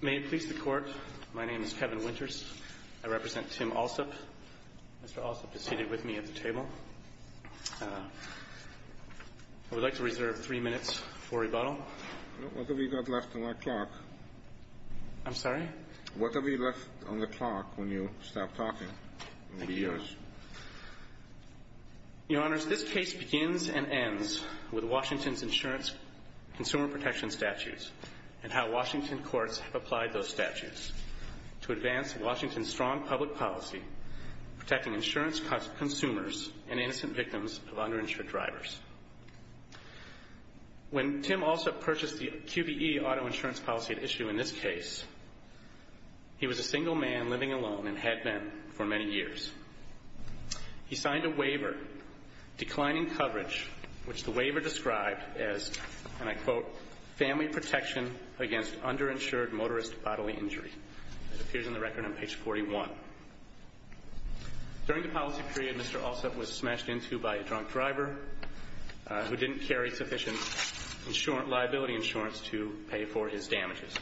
May it please the Court, my name is Kevin Winters, I represent Tim Alsup. Mr. Alsup is seated with me at the table. I would like to reserve three minutes for rebuttal. What have you got left on the clock? I'm sorry? What have you left on the clock when you stopped talking? Maybe yours. Your Honors, this case begins and ends with Washington's insurance consumer protection statutes and how Washington courts have applied those statutes to advance Washington's strong public policy protecting insurance consumers and innocent victims of underinsured drivers. When Tim Alsup purchased the QBE auto insurance policy at issue in this case, he was a single man living alone and had been for many years. He signed a waiver, declining coverage, which the waiver described as, and I quote, family protection against underinsured motorist bodily injury. It appears in the record on page 41. During the policy period, Mr. Alsup was smashed into by a drunk driver who didn't carry sufficient liability insurance to pay for his damages.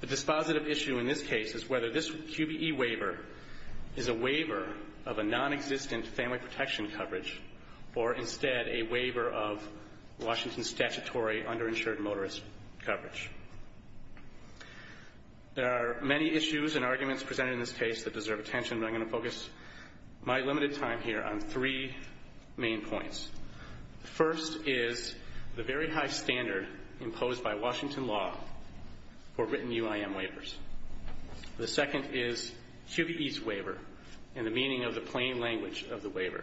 The dispositive issue in this case is whether this QBE waiver is a waiver of a nonexistent family protection coverage or instead a waiver of Washington's statutory underinsured motorist coverage. There are many issues and arguments presented in this case that deserve attention, but I'm going to focus my limited time here on three main points. The first is the very high standard imposed by Washington law for written UIM waivers. The second is QBE's waiver and the meaning of the plain language of the waiver.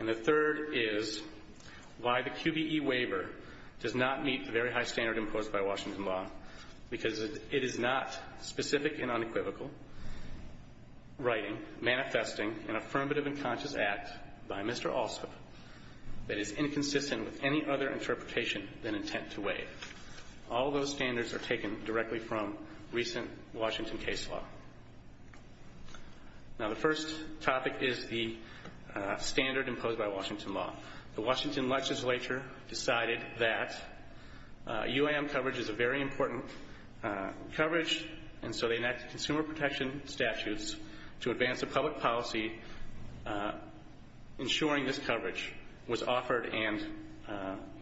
And the third is why the QBE waiver does not meet the very high standard imposed by Washington law because it is not specific and unequivocal writing, manifesting, an affirmative and conscious act by Mr. Alsup that is inconsistent with any other interpretation than intent to waive. All those standards are taken directly from recent Washington case law. Now the first topic is the standard imposed by Washington law. The Washington legislature decided that UIM coverage is a very important coverage and so they enacted consumer protection statutes to advance a public policy ensuring this coverage was offered and,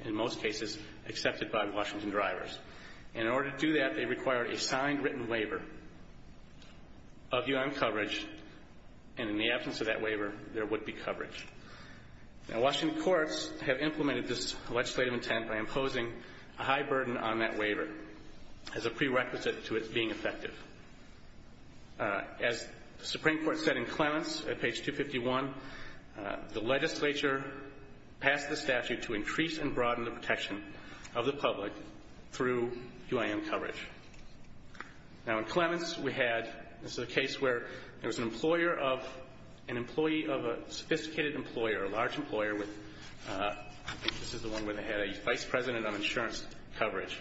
in most cases, accepted by Washington drivers. In order to do that, they required a signed written waiver of UIM coverage and in the absence of that waiver, there would be coverage. Now Washington courts have implemented this legislative intent by imposing a high burden on that waiver as a prerequisite to it being effective. As the Supreme Court said in Clements at page 251, the legislature passed the statute to increase and broaden the protection of the public through UIM coverage. Now in Clements we had, this is a case where there was an employee of a sophisticated employer, a large employer, I think this is the one where they had a vice president of insurance coverage,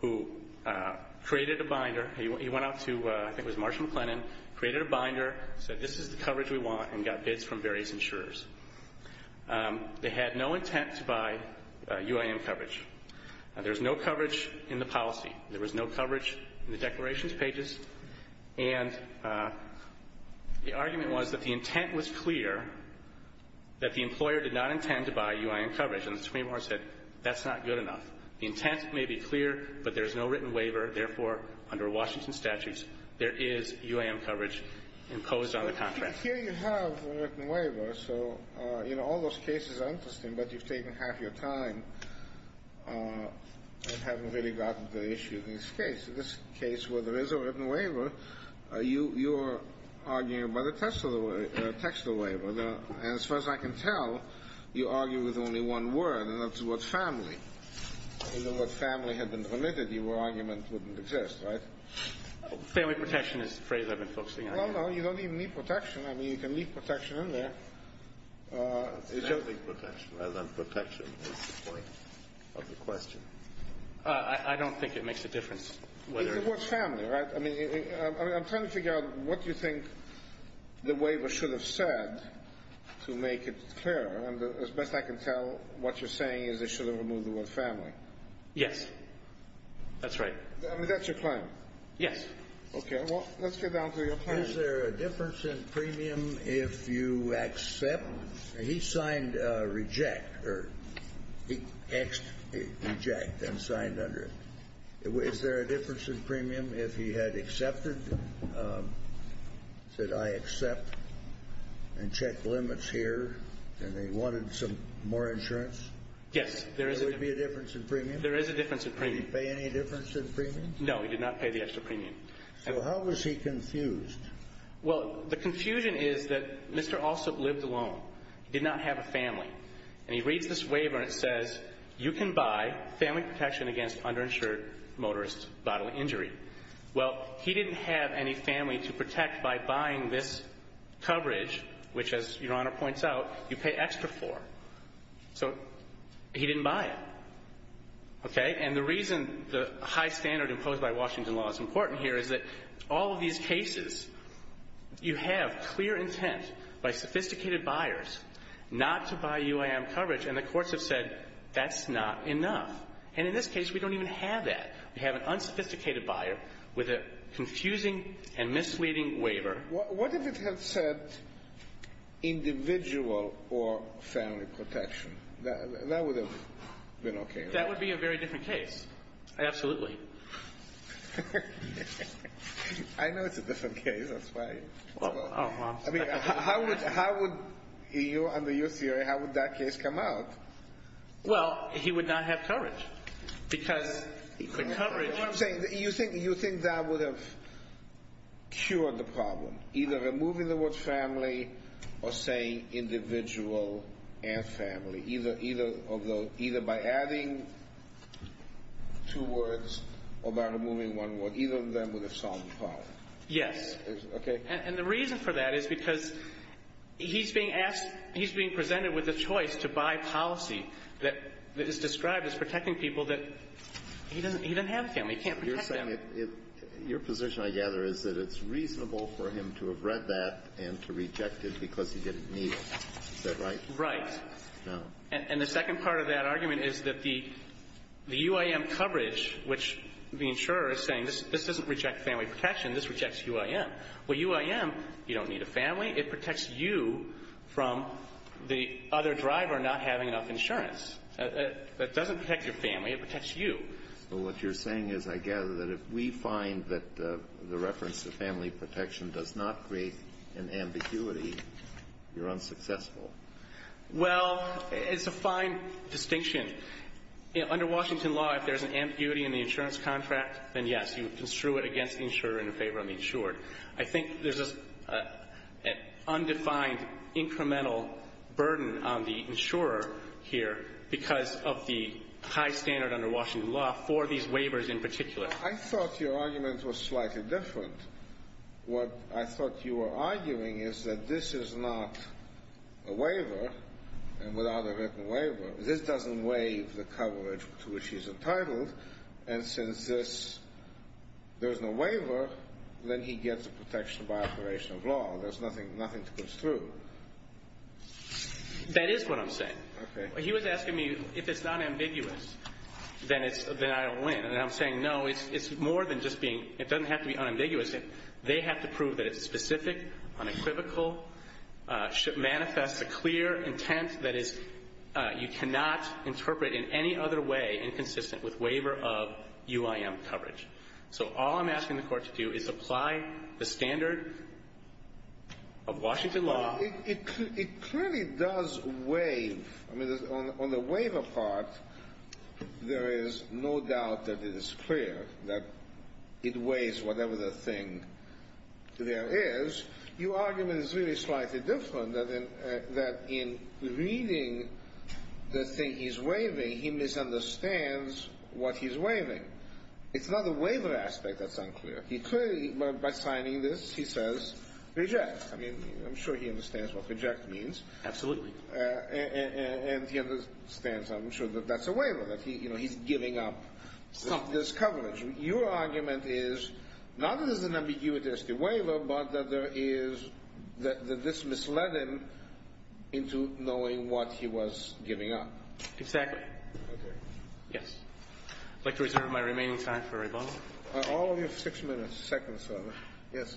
who created a binder, he went out to, I think it was Marshall McLennan, created a binder, said this is the coverage we want and got bids from various insurers. They had no intent to buy UIM coverage. There was no coverage in the policy. There was no coverage in the declarations pages. And the argument was that the intent was clear, that the employer did not intend to buy UIM coverage. And the Supreme Court said that's not good enough. The intent may be clear, but there's no written waiver. Therefore, under Washington statutes, there is UIM coverage imposed on the contract. Here you have a written waiver. So, you know, all those cases are interesting, but you've taken half your time and haven't really gotten to the issue of this case. In this case, where there is a written waiver, you are arguing by the text of the waiver. And as far as I can tell, you argue with only one word, and that's the word family. If the word family had been permitted, your argument wouldn't exist, right? Family protection is the phrase I've been focusing on. No, no, you don't even need protection. I mean, you can leave protection in there. Family protection rather than protection is the point of the question. I don't think it makes a difference. It's the word family, right? I mean, I'm trying to figure out what you think the waiver should have said to make it clear. And as best I can tell, what you're saying is they should have removed the word family. Yes. That's right. I mean, that's your claim. Yes. Okay. Well, let's get down to your claim. Is there a difference in premium if you accept? He signed reject, or he X'd reject and signed under it. Is there a difference in premium if he had accepted? Said, I accept, and checked limits here, and they wanted some more insurance? Yes, there is a difference. Would there be a difference in premium? There is a difference in premium. Did he pay any difference in premium? No, he did not pay the extra premium. So how was he confused? Well, the confusion is that Mr. Alsup lived alone. He did not have a family. And he reads this waiver and it says you can buy family protection against underinsured motorist bodily injury. Well, he didn't have any family to protect by buying this coverage, which, as Your Honor points out, you pay extra for. So he didn't buy it. Okay? And the reason the high standard imposed by Washington law is important here is that all of these cases, you have clear intent by sophisticated buyers not to buy UIM coverage, and the courts have said that's not enough. And in this case, we don't even have that. We have an unsophisticated buyer with a confusing and misleading waiver. What if it had said individual or family protection? That would have been okay, right? That would be a very different case, absolutely. I know it's a different case. That's why. I mean, how would you, under your theory, how would that case come out? Well, he would not have coverage because the coverage. You think that would have cured the problem, either removing the word family or saying individual and family, either by adding two words or by removing one word. Either of them would have solved the problem. Yes. Okay? And the reason for that is because he's being presented with a choice to buy policy that is described as protecting people that he doesn't have a family. He can't protect them. Your position, I gather, is that it's reasonable for him to have read that and to reject it because he didn't need it. Is that right? Right. No. And the second part of that argument is that the UIM coverage, which the insurer is saying this doesn't reject family protection. This rejects UIM. Well, UIM, you don't need a family. It protects you from the other driver not having enough insurance. It doesn't protect your family. It protects you. Well, what you're saying is, I gather, that if we find that the reference to family protection does not create an ambiguity, you're unsuccessful. Well, it's a fine distinction. Under Washington law, if there's an ambiguity in the insurance contract, then, yes, you construe it against the insurer in favor of the insured. I think there's an undefined incremental burden on the insurer here because of the high standard under Washington law for these waivers in particular. I thought your argument was slightly different. What I thought you were arguing is that this is not a waiver and without a written waiver. This doesn't waive the coverage to which he's entitled. And since there's no waiver, then he gets a protection by operation of law. There's nothing to construe. That is what I'm saying. He was asking me if it's not ambiguous, then I don't win. And I'm saying, no, it's more than just being – it doesn't have to be unambiguous. They have to prove that it's specific, unequivocal, should manifest a clear intent that is – you cannot interpret in any other way inconsistent with waiver of UIM coverage. So all I'm asking the Court to do is apply the standard of Washington law. It clearly does waive. I mean, on the waiver part, there is no doubt that it is clear that it waives whatever the thing there is. Your argument is really slightly different, that in reading the thing he's waiving, he misunderstands what he's waiving. It's not the waiver aspect that's unclear. He clearly, by signing this, he says reject. I mean, I'm sure he understands what reject means. Absolutely. And he understands, I'm sure, that that's a waiver, that he's giving up this coverage. Your argument is not that this is an ambiguous waiver, but that there is – that this misled him into knowing what he was giving up. Exactly. Okay. Yes. I'd like to reserve my remaining time for rebuttal. All of you have six minutes, seconds. Yes.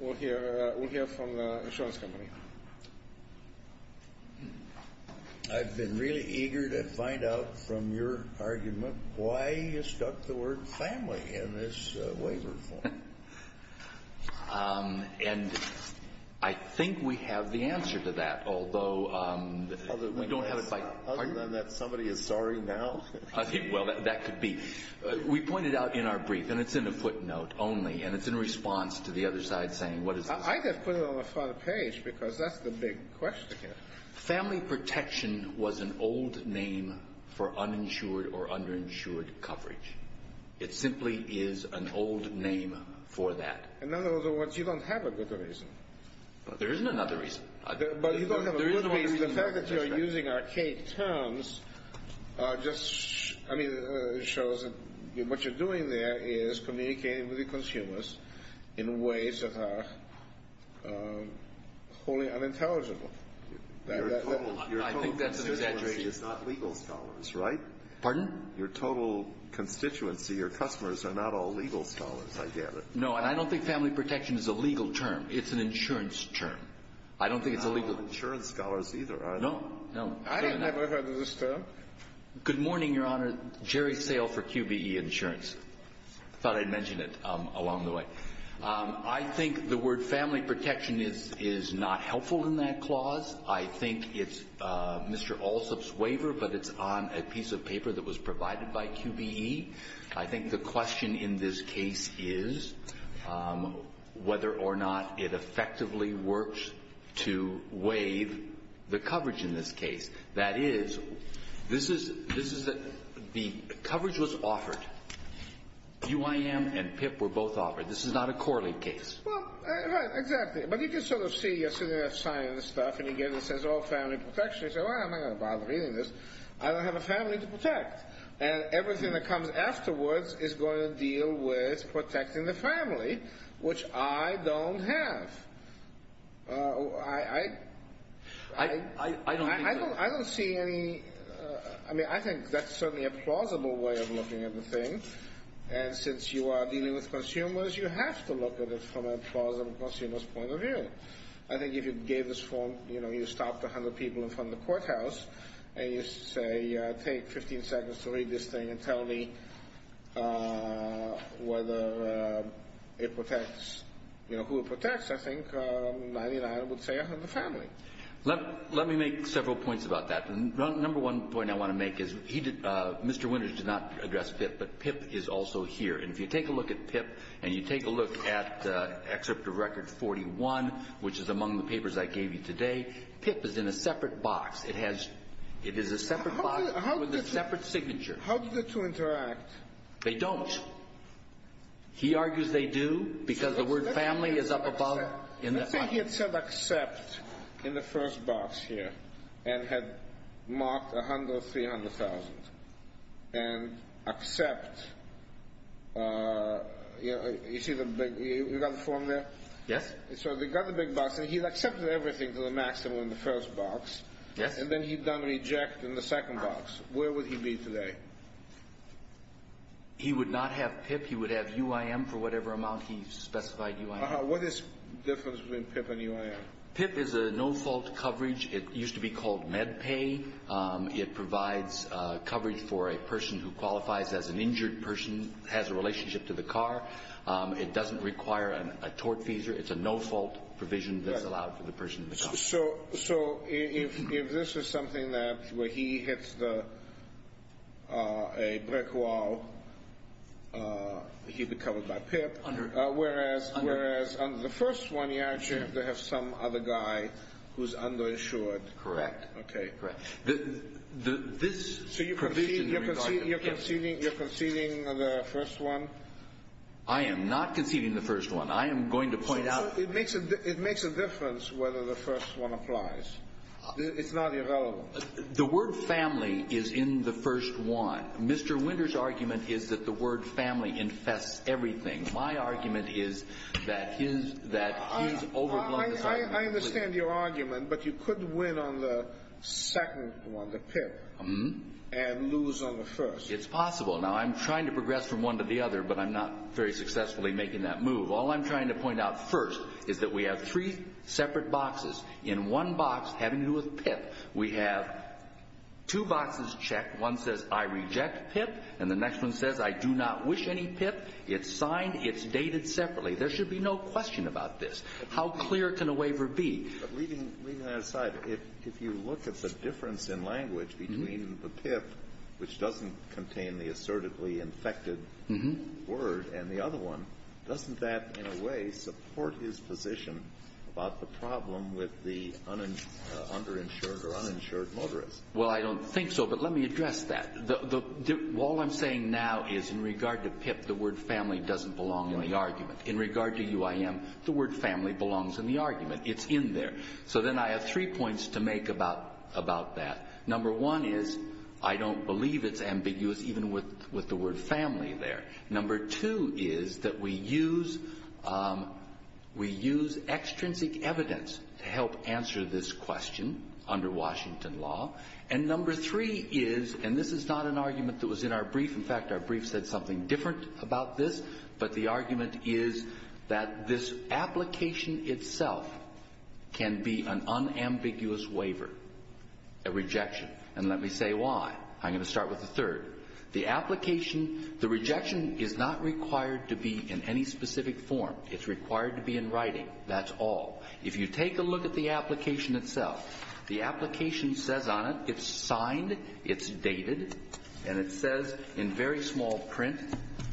We'll hear from the insurance company. I've been really eager to find out from your argument why you stuck the word family in this waiver form. And I think we have the answer to that, although we don't have it by – Other than that somebody is sorry now? Well, that could be. We pointed out in our brief, and it's in a footnote only, and it's in response to the other side saying, what is this? I just put it on the front page because that's the big question here. Family protection was an old name for uninsured or underinsured coverage. It simply is an old name for that. In other words, you don't have a good reason. There isn't another reason. The fact that you're using archaic terms just shows that what you're doing there is communicating with the consumers in ways that are wholly unintelligible. I think that's an exaggeration. Your total constituency is not legal scholars, right? Pardon? Your total constituency, your customers, are not all legal scholars, I gather. No, and I don't think family protection is a legal term. It's an insurance term. I don't think it's a legal term. I'm not one of the insurance scholars either, are you? No, no. I've never heard of this term. Good morning, Your Honor. Jerry Sale for QBE Insurance. I thought I'd mention it along the way. I think the word family protection is not helpful in that clause. I think it's Mr. Alsup's waiver, but it's on a piece of paper that was provided by QBE. I think the question in this case is whether or not it effectively works to waive the coverage in this case. That is, this is the coverage was offered. UIM and PIP were both offered. This is not a correlate case. Well, right, exactly. But you can sort of see you're sitting there signing this stuff, and you get it that says all family protection. You say, well, I'm not going to bother reading this. I don't have a family to protect. And everything that comes afterwards is going to deal with protecting the family, which I don't have. I don't see any – I mean, I think that's certainly a plausible way of looking at the thing. And since you are dealing with consumers, you have to look at it from a plausible consumer's point of view. I think if you gave this form, you know, you stopped 100 people in front of the courthouse, and you say take 15 seconds to read this thing and tell me whether it protects – you know, who it protects, I think 99 would say 100 family. Let me make several points about that. The number one point I want to make is Mr. Winters did not address PIP, but PIP is also here. And if you take a look at PIP and you take a look at Excerpt of Record 41, which is among the papers I gave you today, PIP is in a separate box. It has – it is a separate box with a separate signature. How do the two interact? They don't. He argues they do because the word family is up above – You see the big – you got the form there? Yes. So they got the big box, and he accepted everything to the maximum in the first box. Yes. And then he done reject in the second box. Where would he be today? He would not have PIP. He would have UIM for whatever amount he specified UIM. What is the difference between PIP and UIM? PIP is a no-fault coverage. It used to be called MedPay. It provides coverage for a person who qualifies as an injured person, has a relationship to the car. It doesn't require a tort fees. It's a no-fault provision that's allowed for the person in the car. So if this is something that – where he hits the – a brick wall, he'd be covered by PIP. Under. Whereas under the first one, you actually have to have some other guy who's underinsured. Correct. Correct. So you're conceding the first one? I am not conceding the first one. I am going to point out – It makes a difference whether the first one applies. It's not irrelevant. The word family is in the first one. Mr. Winter's argument is that the word family infests everything. My argument is that his overblown – I understand your argument, but you could win on the second one, the PIP, and lose on the first. It's possible. Now, I'm trying to progress from one to the other, but I'm not very successfully making that move. All I'm trying to point out first is that we have three separate boxes. In one box, having to do with PIP, we have two boxes checked. One says, I reject PIP, and the next one says, I do not wish any PIP. It's signed. It's dated separately. There should be no question about this. How clear can a waiver be? But leaving that aside, if you look at the difference in language between the PIP, which doesn't contain the assertively infected word, and the other one, doesn't that in a way support his position about the problem with the underinsured or uninsured motorist? Well, I don't think so, but let me address that. All I'm saying now is in regard to PIP, the word family doesn't belong in the argument. In regard to UIM, the word family belongs in the argument. It's in there. So then I have three points to make about that. Number one is I don't believe it's ambiguous even with the word family there. Number two is that we use extrinsic evidence to help answer this question under Washington law. And number three is, and this is not an argument that was in our brief. In fact, our brief said something different about this, but the argument is that this application itself can be an unambiguous waiver, a rejection. And let me say why. I'm going to start with the third. The application, the rejection is not required to be in any specific form. It's required to be in writing. That's all. If you take a look at the application itself, the application says on it, it's signed, it's dated, and it says in very small print,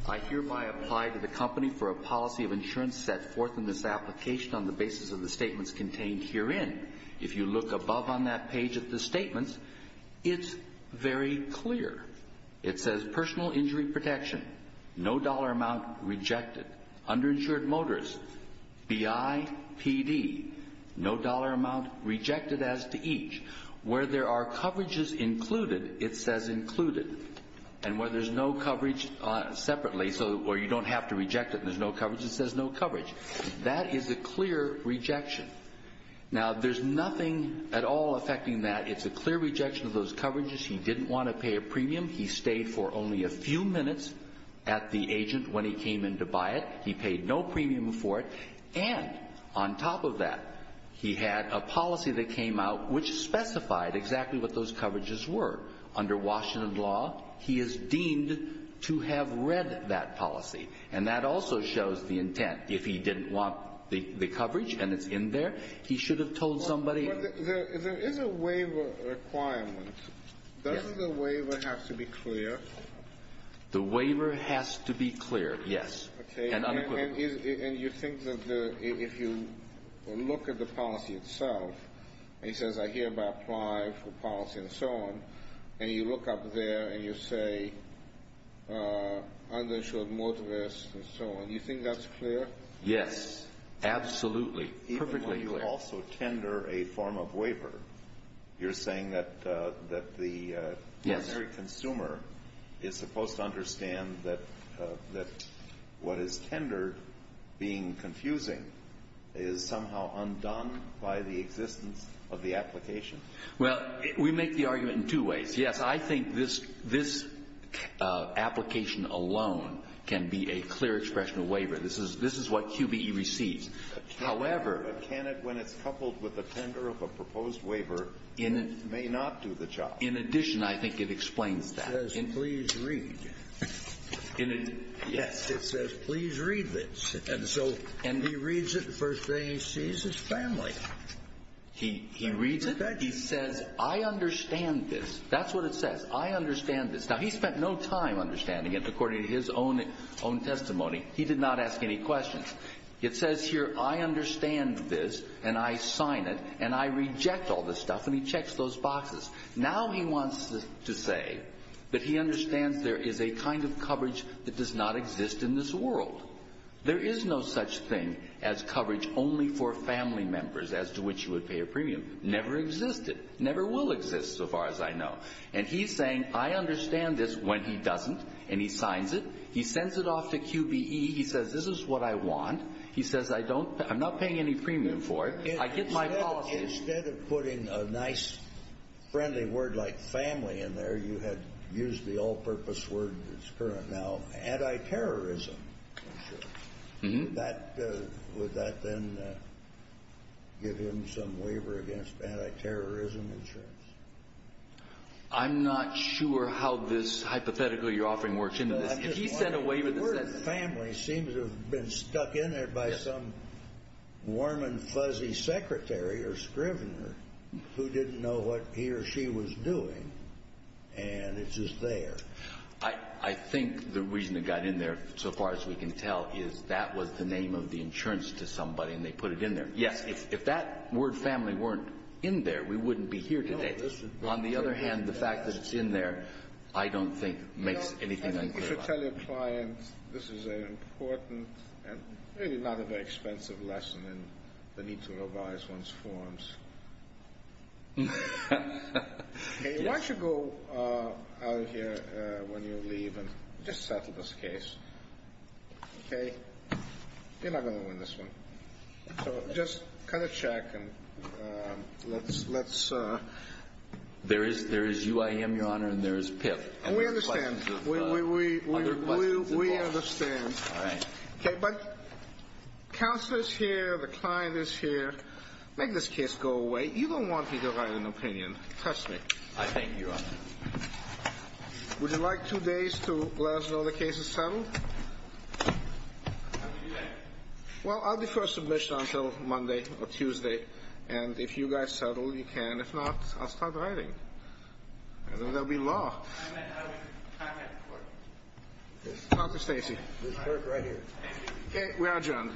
I hereby apply to the company for a policy of insurance set forth in this application on the basis of the statements contained herein. If you look above on that page at the statements, it's very clear. It says personal injury protection, no dollar amount rejected. Underinsured motorist, BIPD, no dollar amount rejected as to each. Where there are coverages included, it says included, and where there's no coverage separately or you don't have to reject it and there's no coverage, it says no coverage. That is a clear rejection. Now, there's nothing at all affecting that. It's a clear rejection of those coverages. He didn't want to pay a premium. He stayed for only a few minutes at the agent when he came in to buy it. He paid no premium for it. And on top of that, he had a policy that came out which specified exactly what those coverages were. Under Washington law, he is deemed to have read that policy, and that also shows the intent. If he didn't want the coverage and it's in there, he should have told somebody. There is a waiver requirement. Doesn't the waiver have to be clear? The waiver has to be clear, yes, and unequivocally. And you think that if you look at the policy itself, it says I hereby apply for policy and so on, and you look up there and you say I'm going to show more to this and so on, you think that's clear? Yes, absolutely, perfectly clear. Even when you also tender a form of waiver, you're saying that the primary consumer is supposed to understand that what is tendered being confusing is somehow undone by the existence of the application. Well, we make the argument in two ways. Yes, I think this application alone can be a clear expression of waiver. This is what QBE receives. But can it, when it's coupled with a tender of a proposed waiver, may not do the job? In addition, I think it explains that. It says please read. Yes, it says please read this. And he reads it the first day he sees his family. He reads it. He says I understand this. That's what it says. I understand this. Now, he spent no time understanding it according to his own testimony. He did not ask any questions. It says here I understand this and I sign it and I reject all this stuff, and he checks those boxes. Now he wants to say that he understands there is a kind of coverage that does not exist in this world. There is no such thing as coverage only for family members as to which you would pay a premium. Never existed. Never will exist so far as I know. And he's saying I understand this when he doesn't, and he signs it. He sends it off to QBE. He says this is what I want. He says I'm not paying any premium for it. I get my policy. Instead of putting a nice, friendly word like family in there, you had used the all-purpose word that's current now, anti-terrorism insurance. Would that then give him some waiver against anti-terrorism insurance? I'm not sure how this hypothetical you're offering works into this. The word family seems to have been stuck in there by some warm and fuzzy secretary or scrivener who didn't know what he or she was doing, and it's just there. I think the reason it got in there so far as we can tell is that was the name of the insurance to somebody, and they put it in there. Yes, if that word family weren't in there, we wouldn't be here today. On the other hand, the fact that it's in there I don't think makes anything unclear. I think you should tell your client this is an important and really not a very expensive lesson in the need to revise one's forms. Why don't you go out of here when you leave and just settle this case? Okay? You're not going to win this one. So just kind of check and let's... There is UIM, Your Honor, and there is PIP. We understand. We understand. All right. Okay, but counsel is here. The client is here. Make this case go away. You don't want me to write an opinion. Trust me. I thank you, Your Honor. Would you like two days to let us know the case is settled? Well, I'll defer submission until Monday or Tuesday, and if you guys settle, you can. If not, I'll start writing. And then there will be law. How do we contact the court? Talk to Stacy. The clerk right here. Okay. We are adjourned.